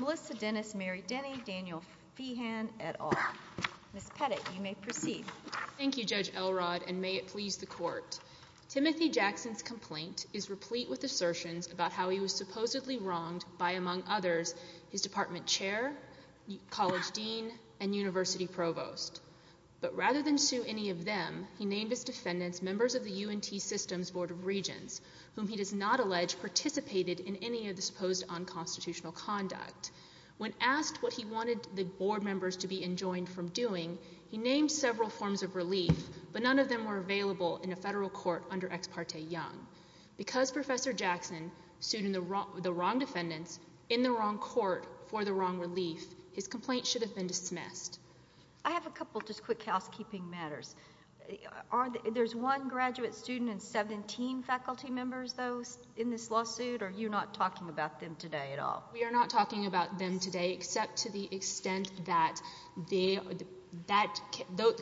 Melissa Dennis, Mary Denny, Daniel Feehan, et al. Ms. Pettit, you may proceed. Thank you, Judge Elrod, and may it please the Court. Timothy Jackson's complaint is replete with assertions about how he was supposedly wronged by, among others, his department chair, college dean, and university provost. But rather than sue any of them, he named his defendants members of the UNT Systems Board of Regents, whom he does not allege participated in any of the supposed unconstitutional conduct. When asked what he wanted the board members to be enjoined from doing, he named several forms of relief, but none of them were available in a federal court under Ex parte Young. Because Professor Jackson sued the wrong defendants in the wrong court for the wrong relief, his complaint should have been dismissed. I have a couple just quick housekeeping matters. There's one graduate student and 17 faculty members, though, in this lawsuit, or you're not talking about them today at all? We are not talking about them today, except to the extent that the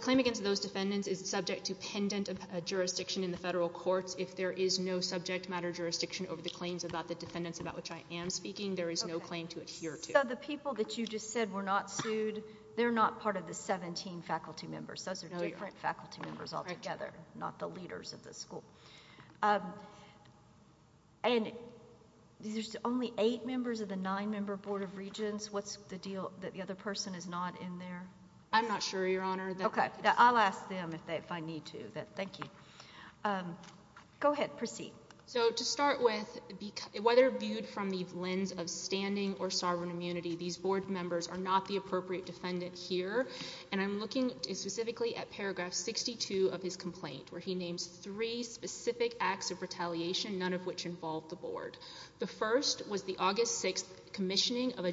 claim against those defendants is subject to pendant jurisdiction in the federal courts. If there is no subject matter jurisdiction over the claims about the defendants about which I am speaking, there is no claim to adhere to. So the people that you just said were not sued, they're not part of the 17 faculty members. Those are different faculty members altogether, not the leaders of the school. And there's only eight members of the nine-member Board of Regents. What's the deal that the other person is not in there? I'm not sure, Your Honor. Okay. I'll ask them if I need to. Thank you. Go ahead. Proceed. So to start with, whether viewed from the lens of standing or sovereign immunity, these board members are not the appropriate defendant here, and I'm looking specifically at paragraph 62 of his complaint, where he names three specific acts of retaliation, none of which involve the board. The first was the August 6th commissioning of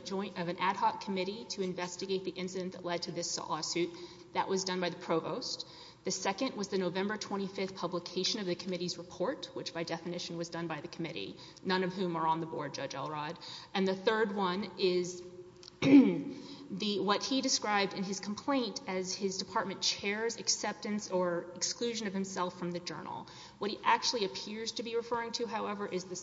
an ad hoc committee to investigate the incident that led to this lawsuit. That was done by the provost. The second was the November 25th publication of the committee's report, which by definition was done by the committee, none of whom are on the board, Judge Elrod. And the third one is what he described in his complaint as his department chair's acceptance or exclusion of himself from the journal. What he actually appears to be referring to, however, is the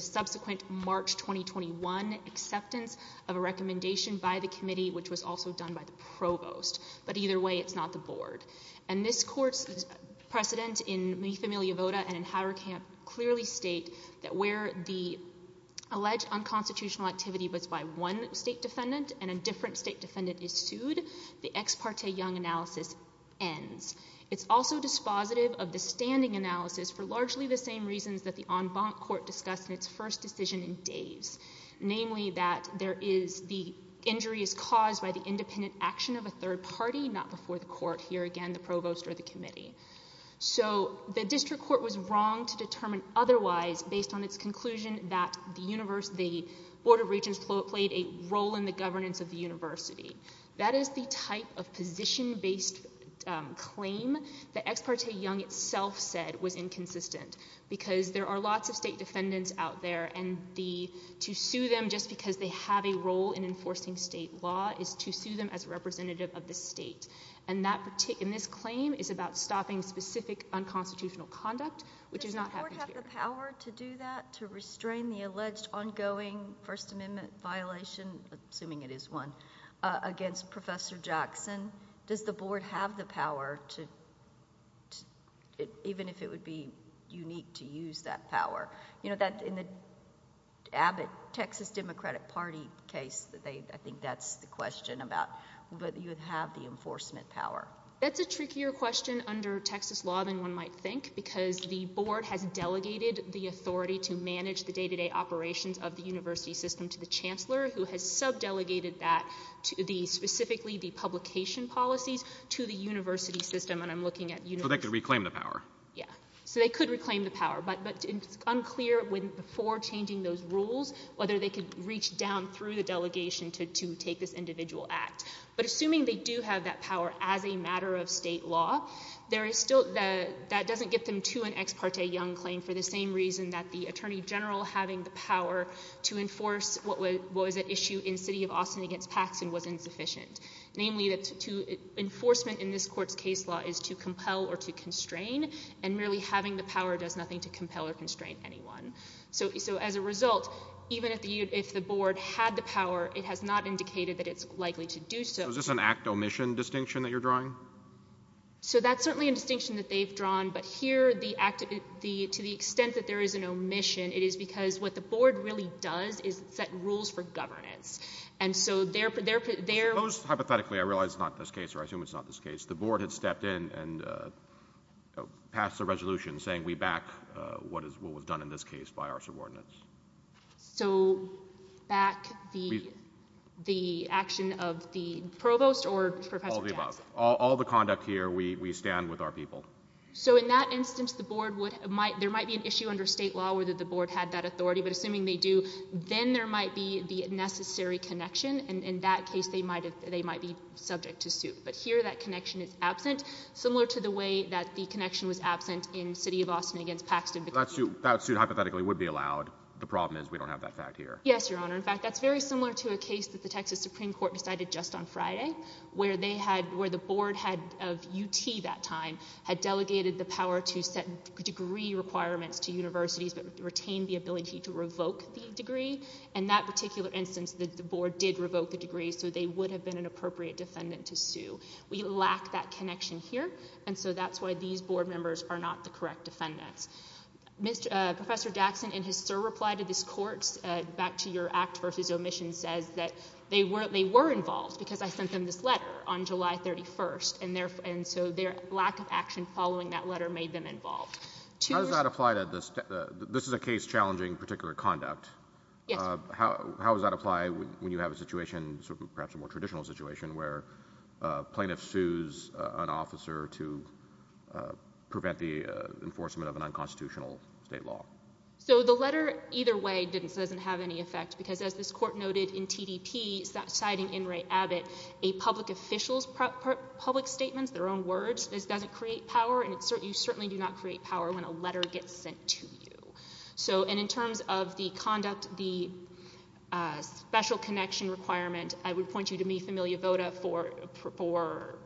subsequent March 2021 acceptance of a recommendation by the committee, which was also done by the provost. But either way, it's not the board. And this court's precedent in Mi Familia Vota and in Howard Camp clearly state that where the alleged unconstitutional activity was by one state defendant and a different state defendant is sued, the ex parte Young analysis ends. It's also dispositive of the standing analysis for largely the same reasons that the en banc court discussed in its first decision in Dave's, namely that the injury is caused by the independent action of a third party, not before the court, here again the provost or the committee. So the district court was wrong to determine otherwise based on its conclusion that the board of regents played a role in the governance of the university. That is the type of position-based claim that ex parte Young itself said was inconsistent because there are lots of state defendants out there and to sue them just because they have a role in enforcing state law is to sue them as a representative of the state. And this claim is about stopping specific unconstitutional conduct, which has not happened here. Does the board have the power to do that, to restrain the alleged ongoing First Amendment violation, assuming it is one, against Professor Jackson? Does the board have the power to, even if it would be unique to use that power? You know, in the Abbott Texas Democratic Party case, I think that's the question about whether you have the enforcement power. That's a trickier question under Texas law than one might think because the board has delegated the authority to manage the day-to-day operations of the university system to the chancellor, who has sub-delegated that, specifically the publication policies, to the university system. So they could reclaim the power? Yeah, so they could reclaim the power. But it's unclear, before changing those rules, whether they could reach down through the delegation to take this individual act. But assuming they do have that power as a matter of state law, that doesn't get them to an Ex parte Young claim for the same reason that the attorney general having the power to enforce what was at issue in the city of Austin against Paxson was insufficient. Namely, enforcement in this court's case law is to compel or to constrain, and merely having the power does nothing to compel or constrain anyone. So as a result, even if the board had the power, it has not indicated that it's likely to do so. So is this an act-omission distinction that you're drawing? So that's certainly a distinction that they've drawn, but here, to the extent that there is an omission, it is because what the board really does is set rules for governance. And so their... I suppose, hypothetically, I realize it's not this case, or I assume it's not this case. The board had stepped in and passed a resolution saying we back what was done in this case by our subordinates. So back the action of the provost or Professor Jackson? All of the above. All the conduct here, we stand with our people. So in that instance, the board would... There might be an issue under state law where the board had that authority, but assuming they do, then there might be the necessary connection, and in that case, they might be subject to suit. But here, that connection is absent, similar to the way that the connection was absent in the city of Austin against Paxson. That suit hypothetically would be allowed. The problem is we don't have that fact here. Yes, Your Honor. In fact, that's very similar to a case that the Texas Supreme Court decided just on Friday, where the board head of UT that time had delegated the power to set degree requirements to universities but retained the ability to revoke the degree. In that particular instance, the board did revoke the degree, so they would have been an appropriate defendant to sue. We lack that connection here, and so that's why these board members are not the correct defendants. Professor Daxson, in his surreply to this Court, back to your act versus omission, says that they were involved because I sent them this letter on July 31st, and so their lack of action following that letter made them involved. How does that apply to this? This is a case challenging particular conduct. Yes. How does that apply when you have a situation, perhaps a more traditional situation, where a plaintiff sues an officer to prevent the enforcement of an unconstitutional state law? So the letter either way doesn't have any effect because, as this Court noted in TDP, citing In re Abbott, a public official's public statements, their own words, doesn't create power, and you certainly do not create power when a letter gets sent to you. And in terms of the conduct, the special connection requirement, I would point you to me, Familia Vota, for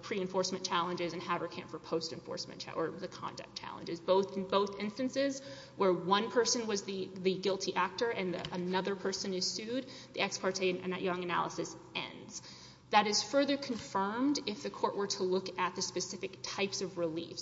pre-enforcement challenges and Haverkamp for post-enforcement challenges, or the conduct challenges. Both instances where one person was the guilty actor and another person is sued, the ex parte Young analysis ends. That is further confirmed if the Court were to look at the specific types of relief.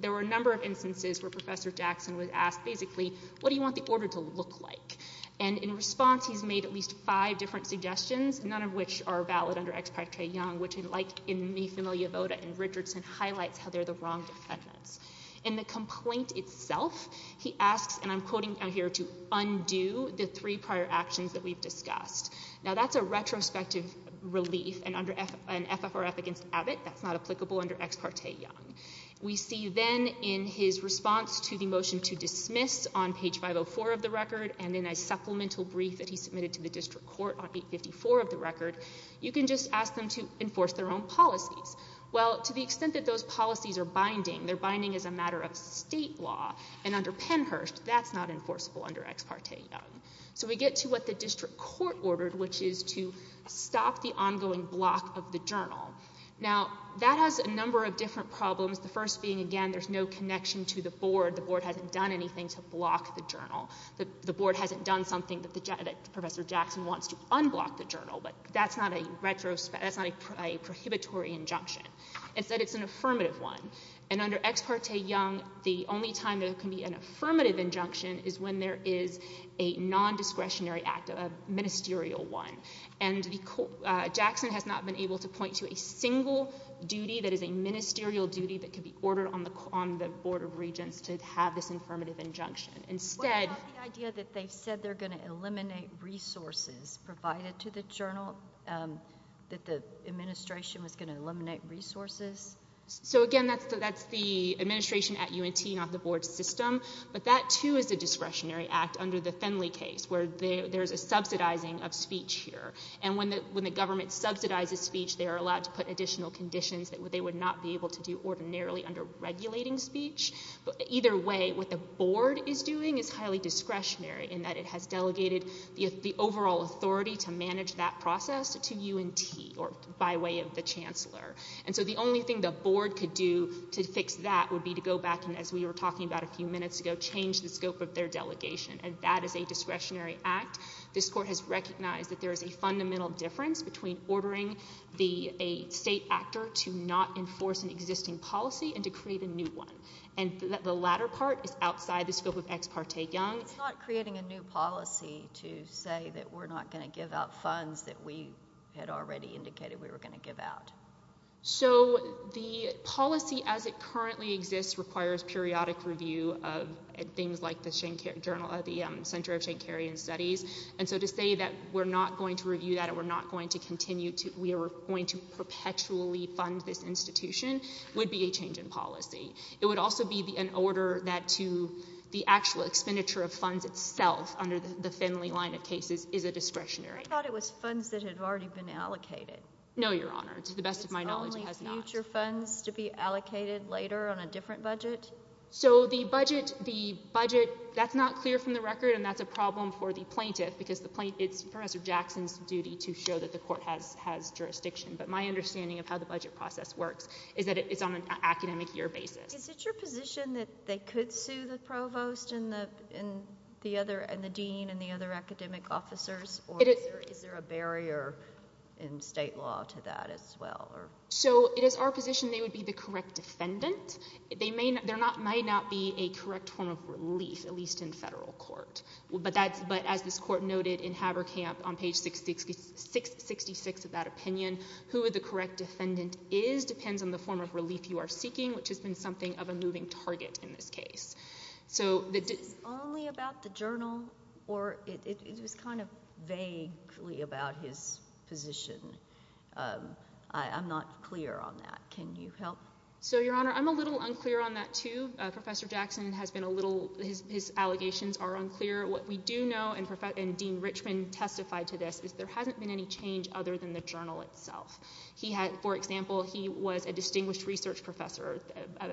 There were a number of instances where Professor Daxson was asked, basically, what do you want the order to look like? And in response, he's made at least five different suggestions, none of which are valid under ex parte Young, which, like in me, Familia Vota, and Richardson, highlights how they're the wrong defendants. In the complaint itself, he asks, and I'm quoting down here, to undo the three prior actions that we've discussed. Now, that's a retrospective relief, and under an FFRF against Abbott, that's not applicable under ex parte Young. We see then in his response to the motion to dismiss on page 504 of the record and in a supplemental brief that he submitted to the district court on page 54 of the record, you can just ask them to enforce their own policies. Well, to the extent that those policies are binding, they're binding as a matter of state law, and under Pennhurst, that's not enforceable under ex parte Young. So we get to what the district court ordered, which is to stop the ongoing block of the journal. Now, that has a number of different problems, the first being, again, there's no connection to the board. The board hasn't done anything to block the journal. The board hasn't done something that Professor Jackson wants to unblock the journal, but that's not a prohibitory injunction. Instead, it's an affirmative one, and under ex parte Young, the only time there can be an affirmative injunction is when there is a nondiscretionary act, a ministerial one, and Jackson has not been able to point to a single duty that is a ministerial duty that could be ordered on the Board of Regents to have this affirmative injunction. What about the idea that they said they're going to eliminate resources provided to the journal, that the administration was going to eliminate resources? So, again, that's the administration at UNT, not the board system, but that, too, is a discretionary act under the Finley case, where there's a subsidizing of speech here, and when the government subsidizes speech, they are allowed to put additional conditions that they would not be able to do ordinarily under regulating speech. Either way, what the board is doing is highly discretionary in that it has delegated the overall authority to manage that process to UNT, or by way of the chancellor. And so the only thing the board could do to fix that would be to go back and, as we were talking about a few minutes ago, change the scope of their delegation, and that is a discretionary act. This court has recognized that there is a fundamental difference between ordering a state actor to not enforce an existing policy and to create a new one. And the latter part is outside the scope of Ex Parte Young. It's not creating a new policy to say that we're not going to give out funds that we had already indicated we were going to give out. So the policy as it currently exists requires periodic review of things like the Center of Shankarian Studies, and so to say that we're not going to review that or we're not going to continue to, we are going to perpetually fund this institution would be a change in policy. It would also be an order that the actual expenditure of funds itself under the Finley line of cases is a discretionary act. I thought it was funds that had already been allocated. No, Your Honor. To the best of my knowledge, it has not. It's only future funds to be allocated later on a different budget? So the budget, that's not clear from the record, and that's a problem for the plaintiff because it's Professor Jackson's duty to show that the court has jurisdiction. But my understanding of how the budget process works is that it's on an academic year basis. Is it your position that they could sue the provost and the dean and the other academic officers, or is there a barrier in state law to that as well? So it is our position they would be the correct defendant. There might not be a correct form of relief, at least in federal court. But as this court noted in Haberkamp on page 666 of that opinion, who the correct defendant is just depends on the form of relief you are seeking, which has been something of a moving target in this case. So... It's only about the journal, or it was kind of vaguely about his position. I'm not clear on that. Can you help? So, Your Honor, I'm a little unclear on that too. Professor Jackson has been a little... His allegations are unclear. What we do know, and Dean Richmond testified to this, is there hasn't been any change other than the journal itself. He had, for example, he was a distinguished research professor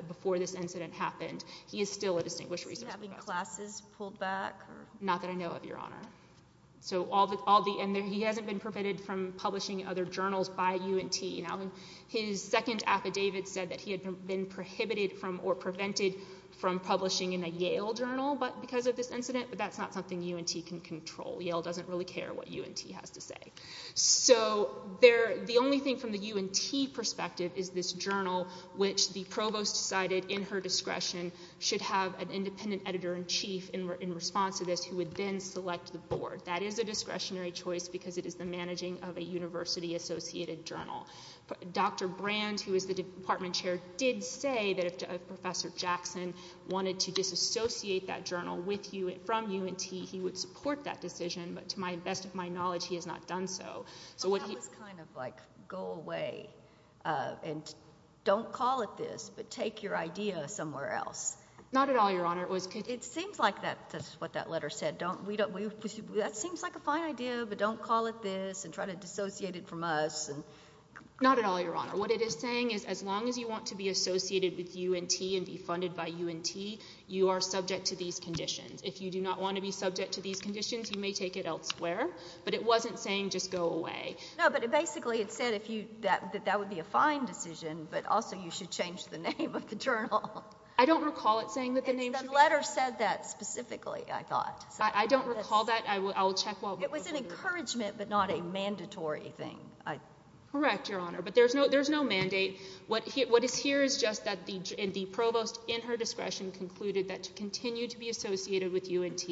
before this incident happened. He is still a distinguished research professor. Is he having classes pulled back? Not that I know of, Your Honor. So all the... And he hasn't been prohibited from publishing in other journals by UNT. Now, his second affidavit said that he had been prohibited from, or prevented from publishing in a Yale journal because of this incident, but that's not something UNT can control. Yale doesn't really care what UNT has to say. So the only thing from the UNT perspective is this journal, which the provost decided, in her discretion, should have an independent editor-in-chief in response to this who would then select the board. That is a discretionary choice because it is the managing of a university-associated journal. Dr. Brand, who is the department chair, did say that if Professor Jackson wanted to disassociate that journal from UNT, he would support that decision, but to the best of my knowledge, he has not done so. So what he... That was kind of like, go away and don't call it this, but take your idea somewhere else. Not at all, Your Honor. It was... It seems like that's what that letter said. Don't... That seems like a fine idea, but don't call it this and try to dissociate it from us. Not at all, Your Honor. What it is saying is as long as you want to be associated with UNT and be funded by UNT, you are subject to these conditions. If you do not want to be subject to these conditions, you may take it elsewhere, but it wasn't saying just go away. No, but it basically had said that that would be a fine decision, but also you should change the name of the journal. I don't recall it saying that the name should be... The letter said that specifically, I thought. I don't recall that. I will check while... It was an encouragement, but not a mandatory thing. Correct, Your Honor, but there's no mandate. What is here is just that the provost, in her discretion, concluded that to continue to be associated with UNT,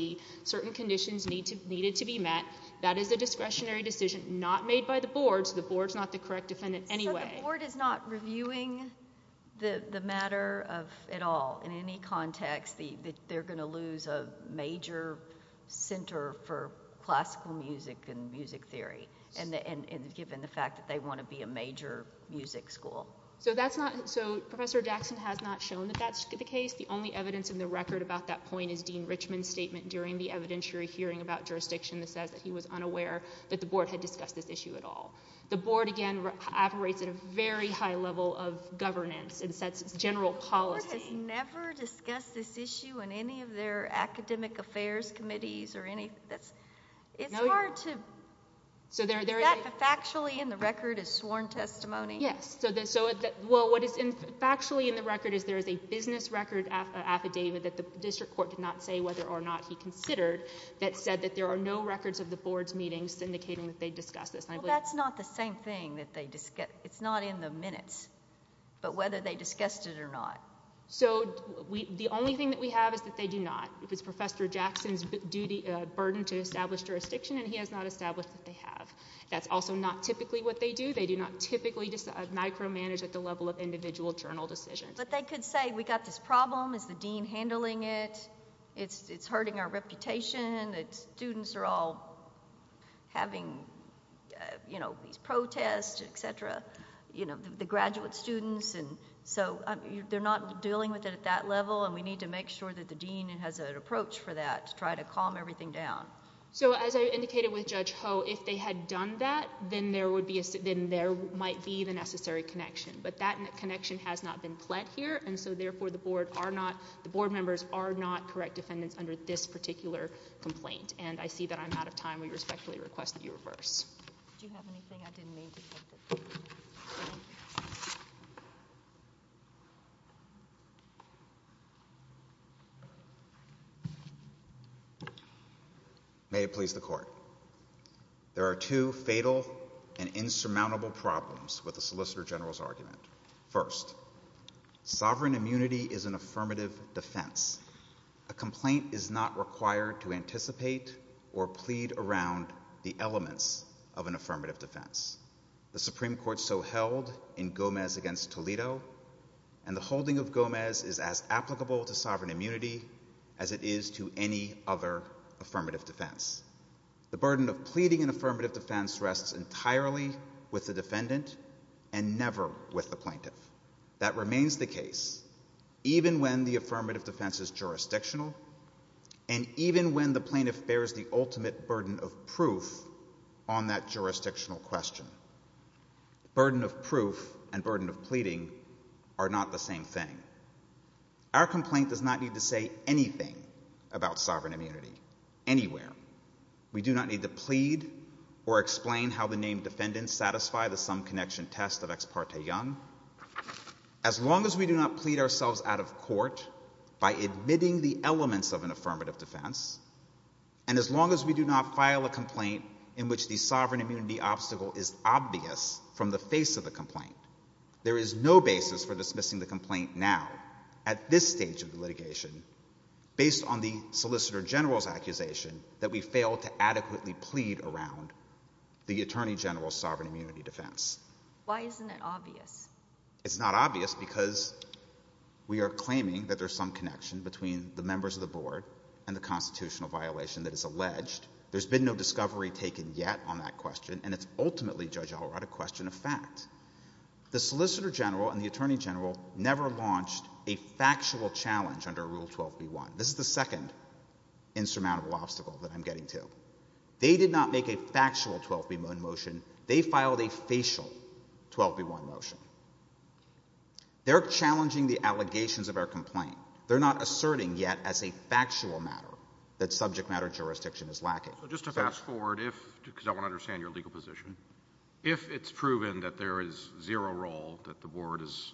certain conditions needed to be met that is a discretionary decision not made by the board, so the board's not the correct defendant anyway. So the board is not reviewing the matter at all in any context that they're going to lose a major center for classical music and music theory given the fact that they want to be a major music school. So that's not... So Professor Jackson has not shown that that's the case. The only evidence in the record about that point is Dean Richmond's statement during the evidentiary hearing about jurisdiction that says that he was unaware that the board had discussed this issue at all. The board, again, operates at a very high level of governance and sets general policy... The board has never discussed this issue in any of their academic affairs committees or any... It's hard to... Is that factually in the record as sworn testimony? Yes. Well, what is factually in the record is there is a business record affidavit that the district court did not say whether or not he considered that said that there are no records of the board's meetings indicating that they discussed this. Well, that's not the same thing that they... It's not in the minutes, but whether they discussed it or not. So the only thing that we have is that they do not. It was Professor Jackson's duty, burden to establish jurisdiction, and he has not established that they have. That's also not typically what they do. They do not typically micromanage at the level of individual journal decisions. But they could say, we got this problem. Is the dean handling it? It's hurting our reputation. The students are all having, you know, these protests, et cetera. You know, the graduate students, and so they're not dealing with it at that level, and we need to make sure that the dean has an approach for that to try to calm everything down. So as I indicated with Judge Ho, if they had done that, then there might be the necessary connection, but that connection has not been fled here, and so therefore the board are not... under this particular complaint, and I see that I'm out of time. We respectfully request that you reverse. Do you have anything? May it please the court. There are two fatal and insurmountable problems with the Solicitor General's argument. First, sovereign immunity is an affirmative defense. A complaint is not required to anticipate or plead around the elements of an affirmative defense. The Supreme Court so held in Gomez v. Toledo, and the holding of Gomez is as applicable to sovereign immunity as it is to any other affirmative defense. The burden of pleading an affirmative defense rests entirely with the defendant and never with the plaintiff. That remains the case even when the affirmative defense is jurisdictional and even when the plaintiff bears the ultimate burden of proof on that jurisdictional question. Burden of proof and burden of pleading are not the same thing. Our complaint does not need to say anything about sovereign immunity anywhere. We do not need to plead or explain how the named defendants satisfy the some connection test of Ex parte Young. As long as we do not plead ourselves out of court by admitting the elements of an affirmative defense, and as long as we do not file a complaint in which the sovereign immunity obstacle is obvious from the face of the complaint, there is no basis for dismissing the complaint now at this stage of the litigation based on the Solicitor General's accusation that we failed to adequately plead around the Attorney General's sovereign immunity defense. Why isn't it obvious? It's not obvious because we are claiming that there's some connection between the members of the Board and the constitutional violation that is alleged. There's been no discovery taken yet on that question, and it's ultimately, Judge Allred, a question of fact. The Solicitor General and the Attorney General never launched a factual challenge under Rule 12b-1. This is the second insurmountable obstacle that I'm getting to. They did not make a factual 12b motion. They filed a facial 12b-1 motion. They're challenging the allegations of our complaint. They're not asserting yet as a factual matter that subject-matter jurisdiction is lacking. So just to fast-forward, because I want to understand your legal position, if it's proven that there is zero role, that the Board is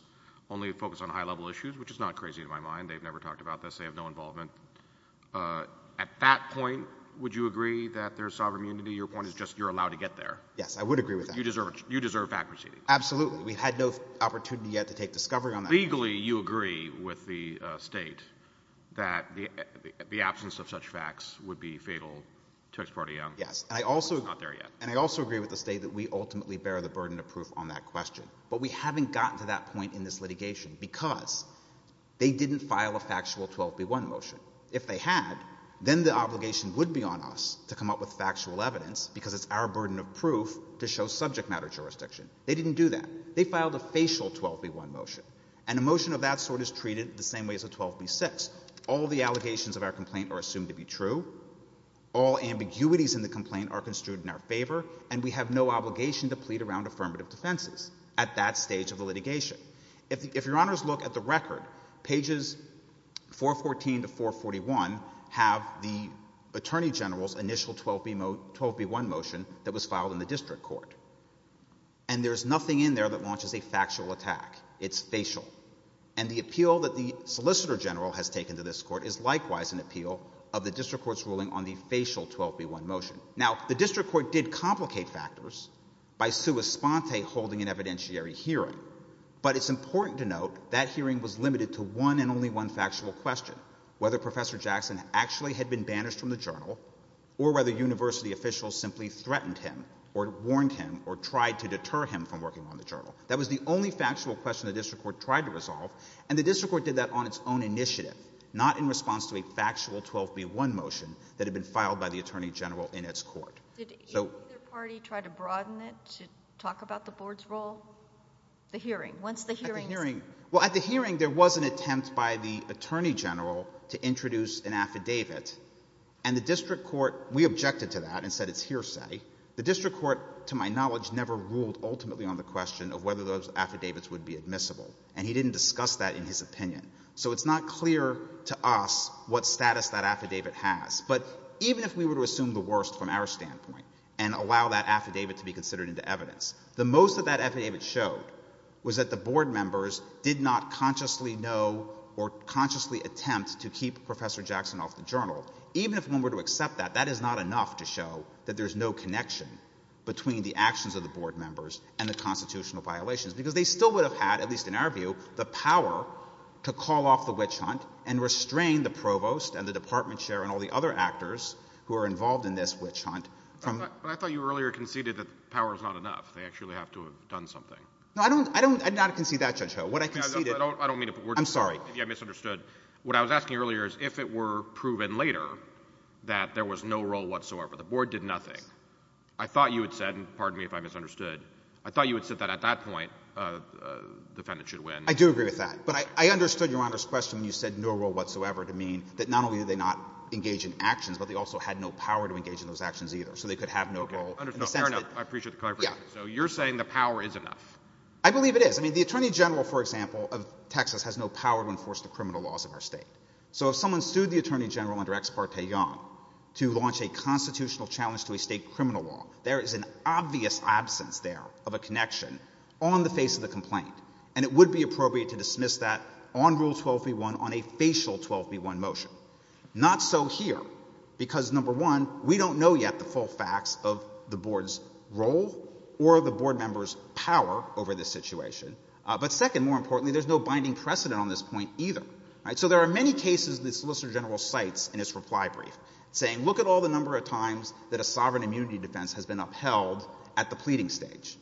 only focused on high-level issues, which is not crazy in my mind, they've never talked about this, they have no involvement, at that point, would you agree that there's sovereign immunity? Legally, your point is just you're allowed to get there. Yes, I would agree with that. You deserve fact-proceeding. Absolutely. We've had no opportunity yet to take discovery on that. Legally, you agree with the State that the absence of such facts would be fatal to Ex parte Young. Yes, and I also agree with the State that we ultimately bear the burden of proof on that question. But we haven't gotten to that point in this litigation because they didn't file a factual 12b-1 motion. If they had, then the obligation would be on us to come up with factual evidence because it's our burden of proof to show subject matter jurisdiction. They didn't do that. They filed a facial 12b-1 motion, and a motion of that sort is treated the same way as a 12b-6. All the allegations of our complaint are assumed to be true, all ambiguities in the complaint are construed in our favor, and we have no obligation to plead around affirmative defenses at that stage of the litigation. If Your Honors look at the record, pages 414 to 441 have the Attorney General's initial 12b-1 motion that was filed in the district court. And there's nothing in there that launches a factual attack. It's facial. And the appeal that the Solicitor General has taken to this court is likewise an appeal of the district court's ruling on the facial 12b-1 motion. Now, the district court did complicate factors by sua sponte holding an evidentiary hearing, but it's important to note that hearing was limited to one and only one factual question, whether Professor Jackson actually had been banished from the journal or whether university officials simply threatened him or warned him or tried to deter him from working on the journal. That was the only factual question the district court tried to resolve, and the district court did that on its own initiative, not in response to a factual 12b-1 motion that had been filed by the Attorney General in its court. Did either party try to broaden it to talk about the board's role? The hearing. Once the hearing... Well, at the hearing, there was an attempt by the Attorney General to introduce an affidavit, and the district court... We objected to that and said it's hearsay. The district court, to my knowledge, never ruled ultimately on the question of whether those affidavits would be admissible, and he didn't discuss that in his opinion. So it's not clear to us what status that affidavit has. But even if we were to assume the worst from our standpoint and allow that affidavit to be considered into evidence, the most that that affidavit showed was that the board members did not consciously know or consciously attempt to keep Professor Jackson off the journal. Even if one were to accept that, that is not enough to show that there's no connection between the actions of the board members and the constitutional violations, because they still would have had, at least in our view, the power to call off the witch hunt and restrain the provost and the department chair and all the other actors who are involved in this witch hunt... But I thought you earlier conceded that power is not enough. They actually have to have done something. No, I don't concede that, Judge Ho. What I conceded... I don't mean to... I'm sorry. I misunderstood. What I was asking earlier is if it were proven later that there was no role whatsoever, the board did nothing, I thought you had said, and pardon me if I misunderstood, I thought you had said that at that point the defendant should win. I do agree with that. But I understood Your Honor's question when you said no role whatsoever to mean that not only did they not engage in actions, but they also had no power to engage in those actions either, so they could have no role... Okay, I understand. Fair enough. I appreciate the clarification. So you're saying the power is enough. I believe it is. I mean, the attorney general, for example, of Texas, has no power to enforce the criminal laws of our state. So if someone sued the attorney general under Ex parte Young to launch a constitutional challenge to a state criminal law, there is an obvious absence there of a connection on the face of the complaint, and it would be appropriate to dismiss that on Rule 12b-1, on a facial 12b-1 motion. Not so here, because number one, we don't know yet the full facts of the board's role or the board member's power over this situation. But second, more importantly, there's no binding precedent on this point either. So there are many cases the solicitor general cites in his reply brief saying, look at all the number of times that a sovereign immunity defense has been upheld at the pleading stage.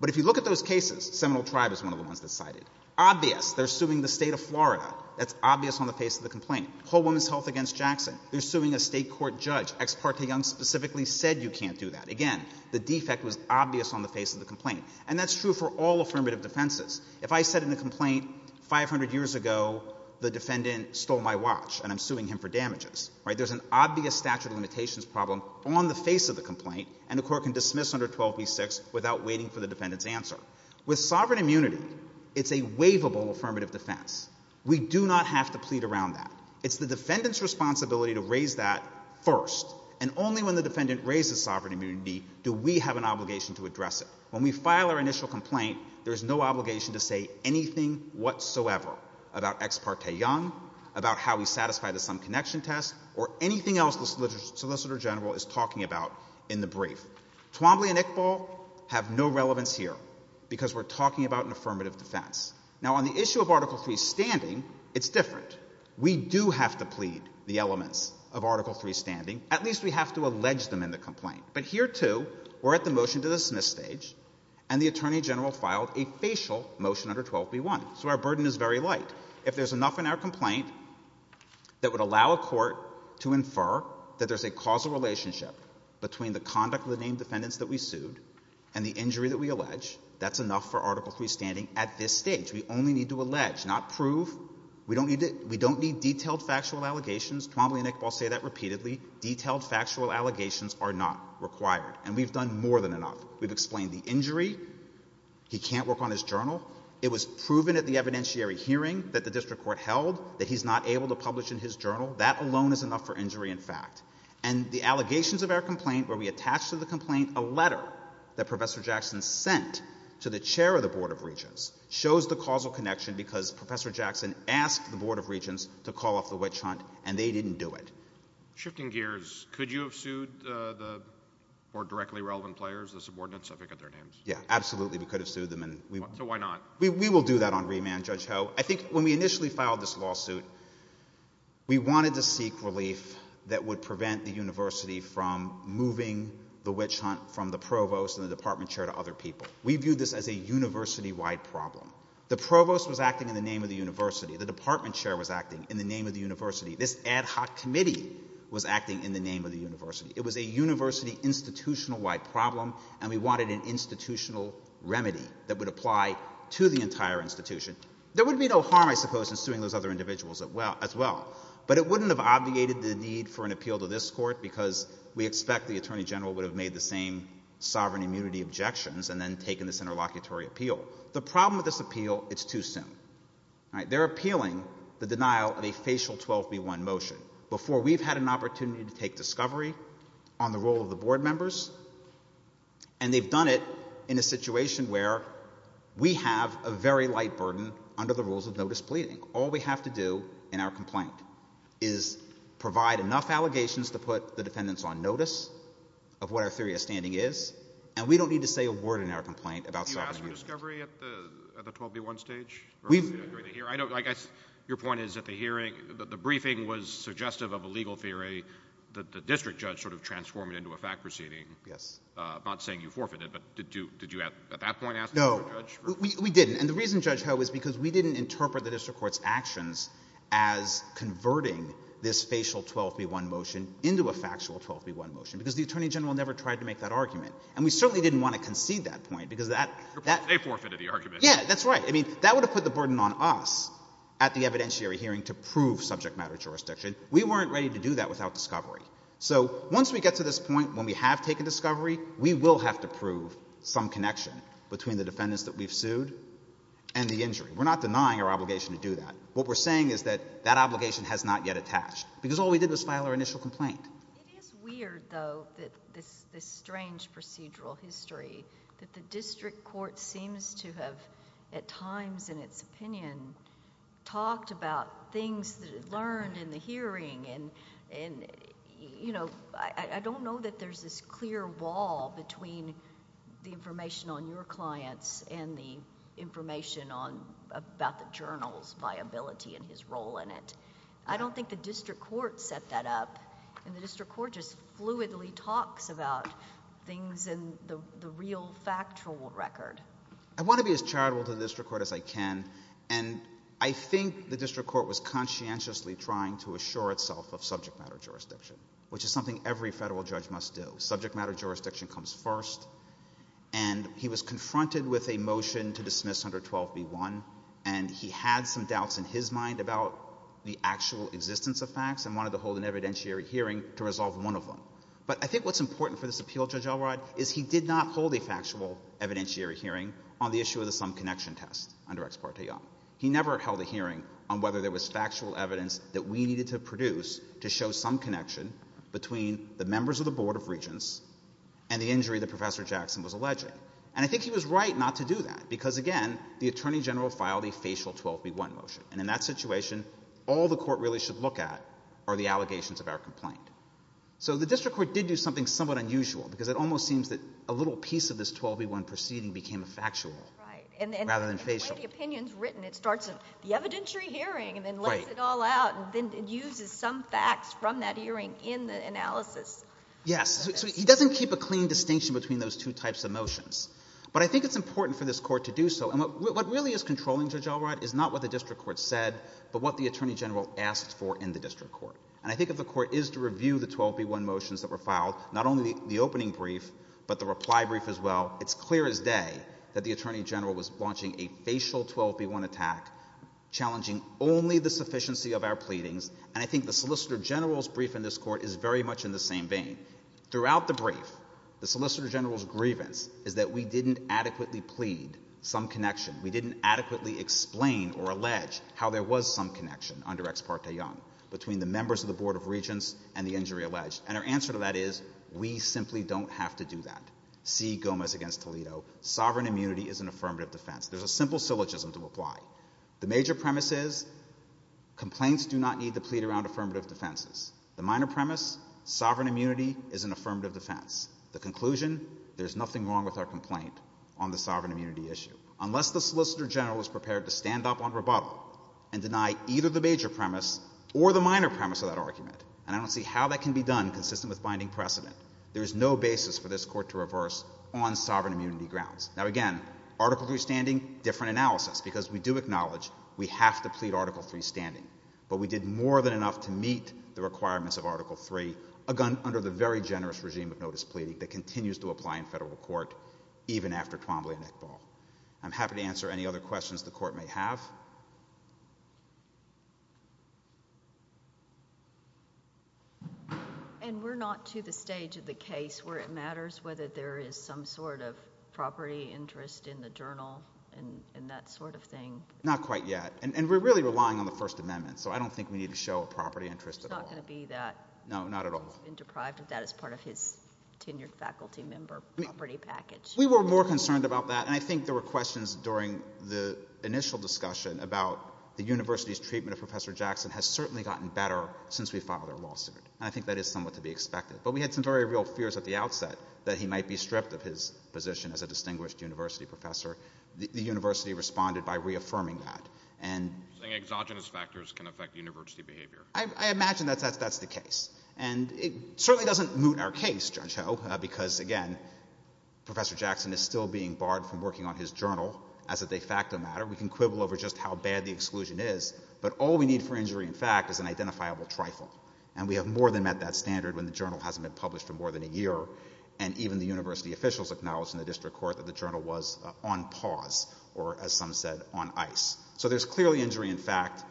But if you look at those cases, Seminole Tribe is one of the ones that's cited. Obvious, they're suing the state of Florida. That's obvious on the face of the complaint. Whole Woman's Health against Jackson. They're suing a state court judge. Ex parte Young specifically said you can't do that. Again, the defect was obvious on the face of the complaint. And that's true for all affirmative defenses. If I said in a complaint, 500 years ago the defendant stole my watch and I'm suing him for damages, right, there's an obvious statute of limitations problem on the face of the complaint, and the court can dismiss under 12b-6 without waiting for the defendant's answer. With sovereign immunity, it's a waivable affirmative defense. We do not have to plead around that. It's the defendant's responsibility to raise that first. And only when the defendant raises sovereign immunity do we have an obligation to address it. When we file our initial complaint, there's no obligation to say anything whatsoever about ex parte Young, about how we satisfy the sum connection test, or anything else the Solicitor General is talking about in the brief. Twombly and Iqbal have no relevance here because we're talking about an affirmative defense. Now, on the issue of Article III's standing, it's different. We do have to plead the elements of Article III's standing. At least we have to allege them in the complaint. But here, too, we're at the motion to dismiss stage, and the Attorney General filed a facial motion under 12b-1. So our burden is very light. If there's enough in our complaint that would allow a court to infer that there's a causal relationship between the conduct of the named defendants that we sued and the injury that we allege, that's enough for Article III's standing at this stage. We only need to allege, not prove. We don't need detailed factual allegations. Twombly and Iqbal say that repeatedly. Detailed factual allegations are not required. And we've done more than enough. We've explained the injury. He can't work on his journal. It was proven at the evidentiary hearing that the district court held that he's not able to publish in his journal. That alone is enough for injury in fact. And the allegations of our complaint, where we attach to the complaint a letter that Professor Jackson sent to the chair of the Board of Regents, shows the causal connection, because Professor Jackson asked the Board of Regents to call off the witch hunt, and they didn't do it. Shifting gears, could you have sued the more directly relevant players, the subordinates, if I forget their names? Yeah, absolutely, we could have sued them. So why not? We will do that on remand, Judge Ho. I think when we initially filed this lawsuit, we wanted to seek relief that would prevent the university from moving the witch hunt from the provost and the department chair to other people. We viewed this as a university-wide problem. The provost was acting in the name of the university. The department chair was acting in the name of the university. This ad hoc committee was acting in the name of the university. It was a university institutional-wide problem, and we wanted an institutional remedy that would apply to the entire institution. There would be no harm, I suppose, in suing those other individuals as well. But it wouldn't have obviated the need for an appeal to this court, because we expect the attorney general would have made the same sovereign immunity objections and then taken this interlocutory appeal. The problem with this appeal, it's too soon. They're appealing the denial of a facial 12B1 motion before we've had an opportunity to take discovery on the role of the board members, and they've done it in a situation where we have a very light burden under the rules of notice pleading. All we have to do in our complaint is provide enough allegations to put the defendants on notice of what our theory of standing is, and we don't need to say a word in our complaint about sovereign immunity. You asked for discovery at the 12B1 stage? Your point is at the hearing, the briefing was suggestive of a legal theory that the district judge sort of transformed it into a fact proceeding. Yes. I'm not saying you forfeited, but did you at that point ask the district judge? No, we didn't. And the reason, Judge Ho, is because we didn't interpret the district court's actions as converting this facial 12B1 motion into a factual 12B1 motion, because the attorney general never tried to make that argument. And we certainly didn't want to concede that point, because that... They forfeited the argument. Yeah, that's right. I mean, that would have put the burden on us at the evidentiary hearing to prove subject-matter jurisdiction. We weren't ready to do that without discovery. So once we get to this point when we have taken discovery, we will have to prove some connection between the defendants that we've sued and the injury. We're not denying our obligation to do that. What we're saying is that that obligation has not yet attached, because all we did was file our initial complaint. It is weird, though, this strange procedural history that the district court seems to have, at times, in its opinion, talked about things that it learned in the hearing. And, you know, I don't know that there's this clear wall between the information on your clients and the information about the journal's viability and his role in it. I don't think the district court set that up and the district court just fluidly talks about things in the real factual record. I want to be as charitable to the district court as I can, and I think the district court was conscientiously trying to assure itself of subject-matter jurisdiction, which is something every federal judge must do. Subject-matter jurisdiction comes first, and he was confronted with a motion to dismiss under 12b-1, and he had some doubts in his mind about the actual existence of facts and wanted to hold an evidentiary hearing to resolve one of them. But I think what's important for this appeal, Judge Elrod, is he did not hold a factual evidentiary hearing on the issue of the sum connection test under Ex parte Young. He never held a hearing on whether there was factual evidence that we needed to produce to show some connection between the members of the Board of Regents and the injury that Professor Jackson was alleging. And I think he was right not to do that, because, again, the attorney general filed a facial 12b-1 motion, and in that situation, all the court really should look at are the allegations of our complaint. So the district court did do something somewhat unusual, because it almost seems that a little piece of this 12b-1 proceeding became factual rather than facial. Right, and the way the opinion's written, it starts at the evidentiary hearing and then lays it all out and then uses some facts from that hearing in the analysis. Yes, so he doesn't keep a clean distinction between those two types of motions. But I think it's important for this court to do so, and what really is controlling Judge Elrod is not what the district court said, but what the attorney general asked for in the district court. And I think if the court is to review the 12b-1 motions that were filed, not only the opening brief, but the reply brief as well, it's clear as day that the attorney general was launching a facial 12b-1 attack, challenging only the sufficiency of our pleadings, and I think the solicitor general's brief in this court is very much in the same vein. Throughout the brief, the solicitor general's grievance is that we didn't adequately plead some connection, we didn't adequately explain or allege how there was some connection under Ex parte Young between the members of the Board of Regents and the injury alleged, and our answer to that is we simply don't have to do that. See Gomez v. Toledo. Sovereign immunity is an affirmative defense. There's a simple syllogism to apply. The major premise is complaints do not need to plead around affirmative defenses. The minor premise, sovereign immunity is an affirmative defense. The conclusion, there's nothing wrong with our complaint on the sovereign immunity issue, unless the solicitor general is prepared to stand up on rebuttal and deny either the major premise or the minor premise of that argument, and I don't see how that can be done consistent with binding precedent. There is no basis for this court to reverse on sovereign immunity grounds. Now again, Article III standing, different analysis, because we do acknowledge we have to plead Article III standing, but we did more than enough to meet the requirements of Article III, under the very generous regime of notice pleading that continues to apply in federal court even after Twombly and Iqbal. I'm happy to answer any other questions the court may have. And we're not to the stage of the case where it matters whether there is some sort of property interest in the journal and that sort of thing? Not quite yet, and we're really relying on the First Amendment, so I don't think we need to show a property interest at all. There's not going to be that. No, not at all. He's been deprived of that as part of his tenured faculty member property package. We were more concerned about that, and I think there were questions during the initial discussion about the university's treatment of Professor Jackson has certainly gotten better since we filed our lawsuit, and I think that is somewhat to be expected. But we had some very real fears at the outset that he might be stripped of his position as a distinguished university professor. The university responded by reaffirming that. You're saying exogenous factors can affect university behavior. I imagine that's the case, and it certainly doesn't moot our case, Judge Ho, because, again, Professor Jackson is still being barred from working on his journal as a de facto matter. We can quibble over just how bad the exclusion is, but all we need for injury in fact is an identifiable trifle, and we have more than met that standard when the journal hasn't been published for more than a year, and even the university officials acknowledged in the district court that the journal was on pause or, as some said, on ice. So there's clearly injury in fact.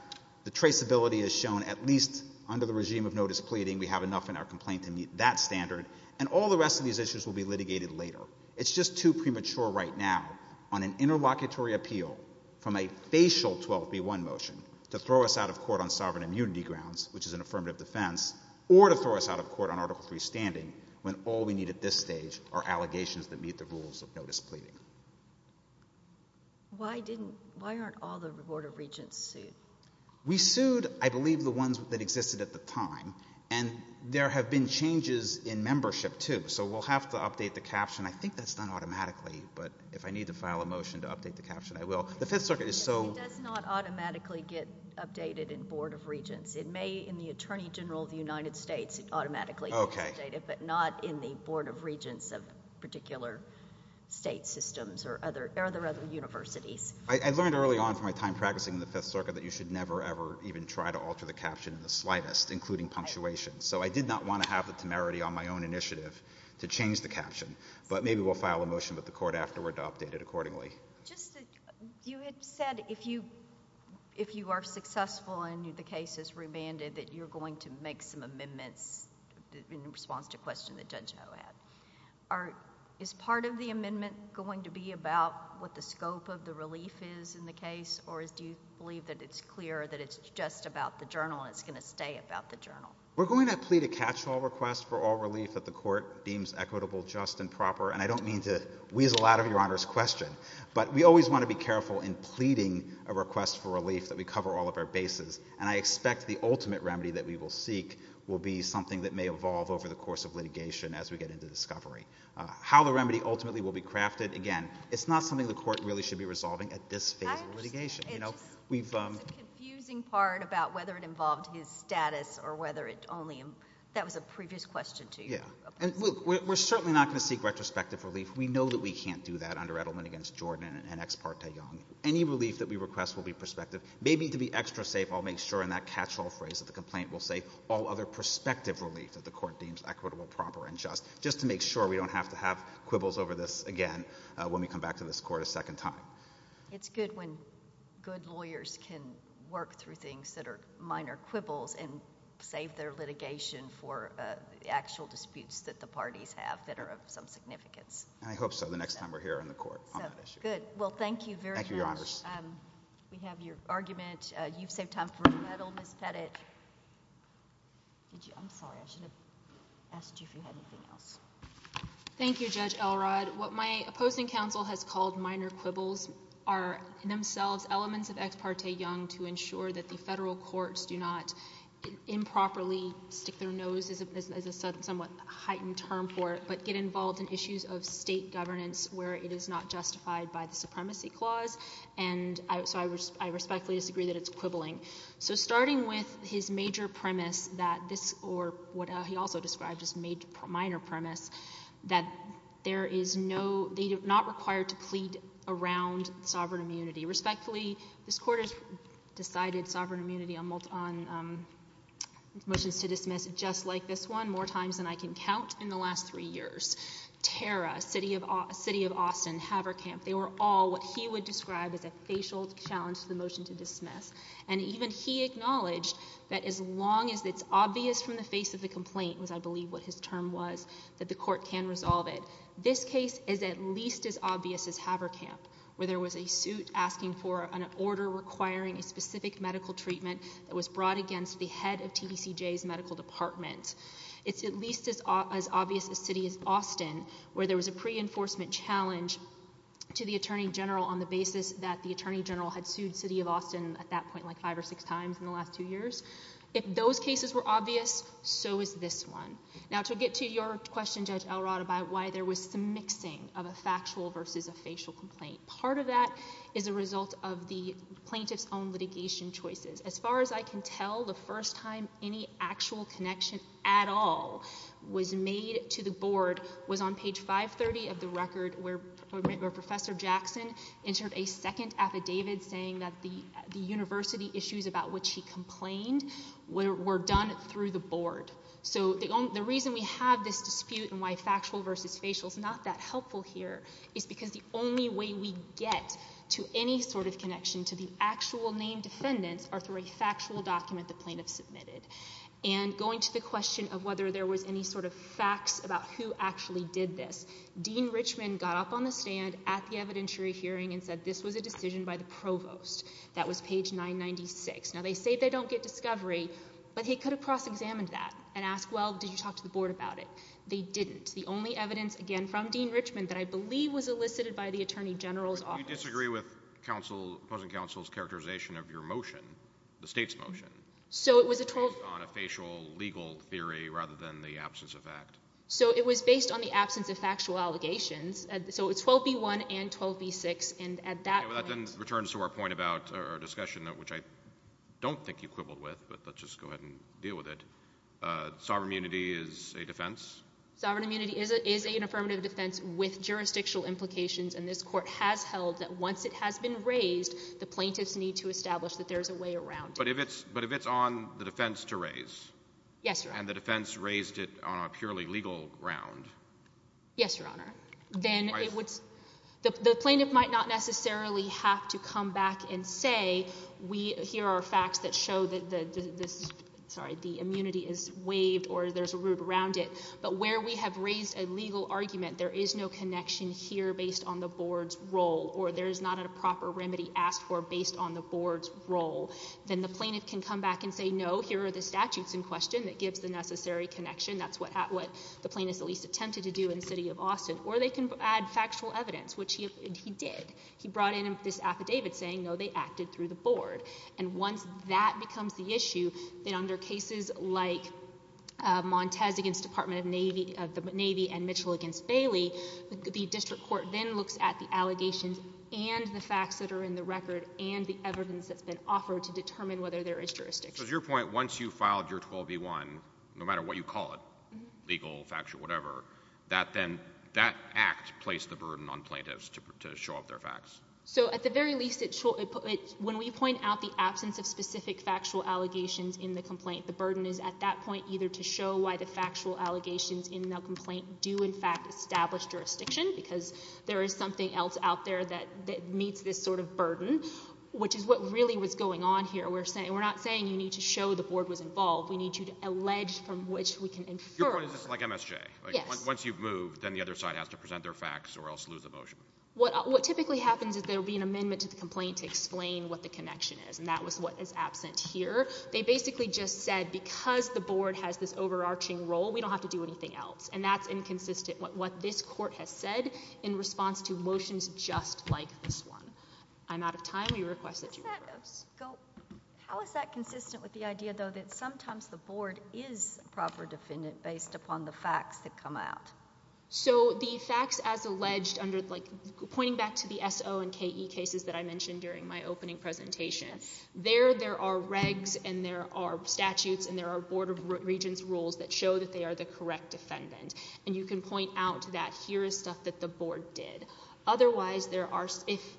The traceability is shown at least under the regime of no displeading. We have enough in our complaint to meet that standard, and all the rest of these issues will be litigated later. It's just too premature right now on an interlocutory appeal from a facial 12B1 motion to throw us out of court on sovereign immunity grounds, which is an affirmative defense, or to throw us out of court on Article III standing when all we need at this stage are allegations that meet the rules of no displeading. Why aren't all the Board of Regents sued? We sued, I believe, the ones that existed at the time, and there have been changes in membership, too, so we'll have to update the caption. I think that's done automatically, but if I need to file a motion to update the caption, I will. It does not automatically get updated in Board of Regents. It may in the Attorney General of the United States automatically get updated, but not in the Board of Regents of particular state systems or other universities. I learned early on from my time practicing in the Fifth Circuit that you should never, ever even try to alter the caption in the slightest, including punctuation, so I did not want to have the temerity on my own initiative to change the caption, but maybe we'll file a motion with the court afterward to update it accordingly. You had said if you are successful and the case is remanded, that you're going to make some amendments in response to a question that Judge Ho had. Is part of the amendment going to be about what the scope of the relief is in the case, or do you believe that it's clear that it's just about the journal and it's going to stay about the journal? We're going to plead a catch-all request for all relief that the court deems equitable, just, and proper, and I don't mean to weasel out of Your Honor's question, but we always want to be careful in pleading a request for relief that we cover all of our bases, and I expect the ultimate remedy that we will seek will be something that may evolve over the course of litigation as we get into discovery. How the remedy ultimately will be crafted, again, it's not something the court really should be resolving at this phase of litigation. It's a confusing part about whether it involved his status or whether it only... That was a previous question to you. Yeah, and we're certainly not going to seek retrospective relief. We know that we can't do that under Edelman against Jordan and ex parte Young. Any relief that we request will be prospective. Maybe to be extra safe, I'll make sure in that catch-all phrase that the complaint will say all other prospective relief that the court deems equitable, proper, and just, just to make sure we don't have to have quibbles over this again when we come back to this court a second time. It's good when good lawyers can work through things that are minor quibbles and save their litigation for actual disputes that the parties have that are of some significance. I hope so the next time we're here in the court on that issue. Good. Well, thank you very much. Thank you, Your Honors. We have your argument. You've saved time for a medal, Ms. Pettit. I'm sorry, I should have asked you if you had anything else. Thank you, Judge Elrod. What my opposing counsel has called minor quibbles are in themselves elements of ex parte Young to ensure that the federal courts do not improperly stick their nose, as a somewhat heightened term for it, but get involved in issues of state governance where it is not justified by the Supremacy Clause. And so I respectfully disagree that it's quibbling. So starting with his major premise that this, or what he also described as a minor premise, that there is no... not required to plead around sovereign immunity. Respectfully, this Court has decided sovereign immunity on motions to dismiss, just like this one, more times than I can count in the last three years. Terra, City of Austin, Haverkamp, they were all what he would describe as a facial challenge to the motion to dismiss. And even he acknowledged that as long as it's obvious from the face of the complaint, was, I believe, what his term was, that the Court can resolve it. This case is at least as obvious as Haverkamp, where there was a suit asking for an order requiring a specific medical treatment that was brought against the head of TBCJ's medical department. It's at least as obvious as City of Austin, where there was a pre-enforcement challenge to the Attorney General on the basis that the Attorney General had sued City of Austin at that point like five or six times in the last two years. If those cases were obvious, so is this one. Now, to get to your question, Judge Elrod, about why there was some mixing of a factual versus a facial complaint, part of that is a result of the plaintiff's own litigation choices. As far as I can tell, the first time any actual connection at all was made to the Board was on page 530 of the record, where Professor Jackson entered a second affidavit saying that the university issues about which he complained were done through the Board. So the reason we have this dispute and why factual versus facial is not that helpful here is because the only way we get to any sort of connection to the actual named defendants are through a factual document the plaintiff submitted. And going to the question of whether there was any sort of facts about who actually did this, Dean Richmond got up on the stand at the evidentiary hearing and said this was a decision by the Provost. That was page 996. Now, they say they don't get discovery, but he could have cross-examined that and asked, well, did you talk to the Board about it? They didn't. The only evidence, again, from Dean Richmond that I believe was elicited by the Attorney General's office... The state's motion. So it was a 12... Based on a facial legal theory rather than the absence of fact. So it was based on the absence of factual allegations. So it's 12b-1 and 12b-6. And at that point... Okay, well, that then returns to our point about our discussion, which I don't think you quibbled with, but let's just go ahead and deal with it. Sovereign immunity is a defense? Sovereign immunity is an affirmative defense with jurisdictional implications, and this Court has held that once it has been raised, the plaintiffs need to establish that there's a way around it. But if it's on the defense to raise... Yes, Your Honor. ...and the defense raised it on a purely legal ground... Yes, Your Honor. Then it would... The plaintiff might not necessarily have to come back and say, here are facts that show that the immunity is waived or there's a route around it, but where we have raised a legal argument, there is no connection here based on the Board's role or there is not a proper remedy asked for based on the Board's role. Then the plaintiff can come back and say, no, here are the statutes in question that gives the necessary connection. That's what the plaintiff at least attempted to do in the city of Austin. Or they can add factual evidence, which he did. He brought in this affidavit saying, no, they acted through the Board. And once that becomes the issue, then under cases like Montez against the Department of the Navy and Mitchell against Bailey, the district court then looks at the allegations and the facts that are in the record and the evidence that's been offered to determine whether there is jurisdiction. So to your point, once you filed your 12b-1, no matter what you call it, legal, factual, whatever, that act placed the burden on plaintiffs to show off their facts. So at the very least, when we point out the absence of specific factual allegations in the complaint, the burden is at that point either to show why the factual allegations in the complaint do in fact establish jurisdiction because there is something else out there that meets this sort of burden, which is what really was going on here. We're not saying you need to show the Board was involved. We need you to allege from which we can infer. Your point is this is like MSJ. Once you've moved, then the other side has to present their facts or else lose the motion. What typically happens is there will be an amendment to the complaint to explain what the connection is. And that was what is absent here. They basically just said because the Board has this overarching role, we don't have to do anything else. And that's inconsistent with what this Court has said in response to motions just like this one. I'm out of time. We request that you... How is that consistent with the idea, though, that sometimes the Board is a proper defendant based upon the facts that come out? So the facts as alleged under, like, pointing back to the S.O. and K.E. cases that I mentioned during my opening presentation, there there are regs and there are regents' rules that show that they are the correct defendant. And you can point out that here is stuff that the Board did. Otherwise, there are...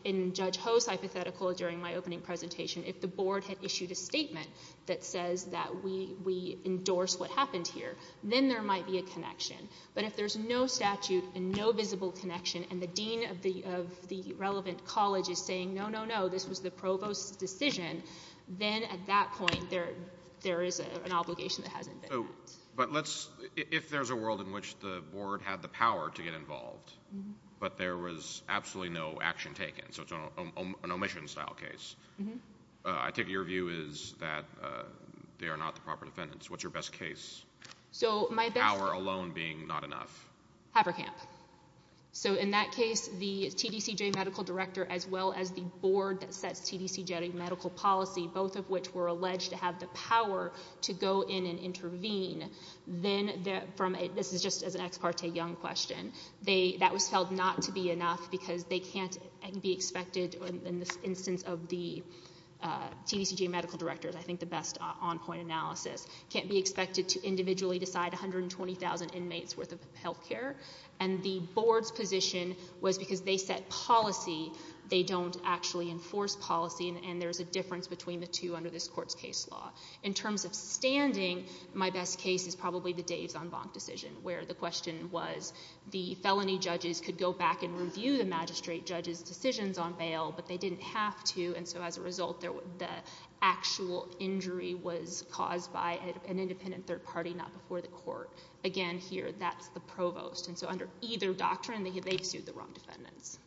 In Judge Ho's hypothetical during my opening presentation, if the Board had issued a statement that says that we endorse what happened here, then there might be a connection. But if there's no statute and no visible connection and the dean of the relevant college is saying, no, no, no, this was the Provost's decision, then at that point, there is an obligation that hasn't been met. But let's... If there's a world in which the Board had the power to get involved but there was absolutely no action taken, so it's an omission-style case, I take it your view is that they are not the proper defendants. What's your best case? Power alone being not enough. Haverkamp. So in that case, the TDCJ medical director as well as the Board that sets TDCJ medical policy, both of which were alleged to have the power to go in and intervene, then this is just as an ex parte young question, that was felt not to be enough because they can't be expected, in the instance of the TDCJ medical director, I think the best on-point analysis, can't be expected to individually decide 120,000 inmates worth of health care, and the Board's position was because they set policy, they don't actually have the power to go in and intervene, so there's a difference between the two under this court's case law. In terms of standing, my best case is probably the Dave's en banc decision, where the question was, the felony judges could go back and review the magistrate judge's decisions on bail, but they didn't have to, and so as a result the actual injury was caused by an independent third party, not before the court. Again, here, that's the provost, and so under either doctrine, they've sued the defendants. Thank you.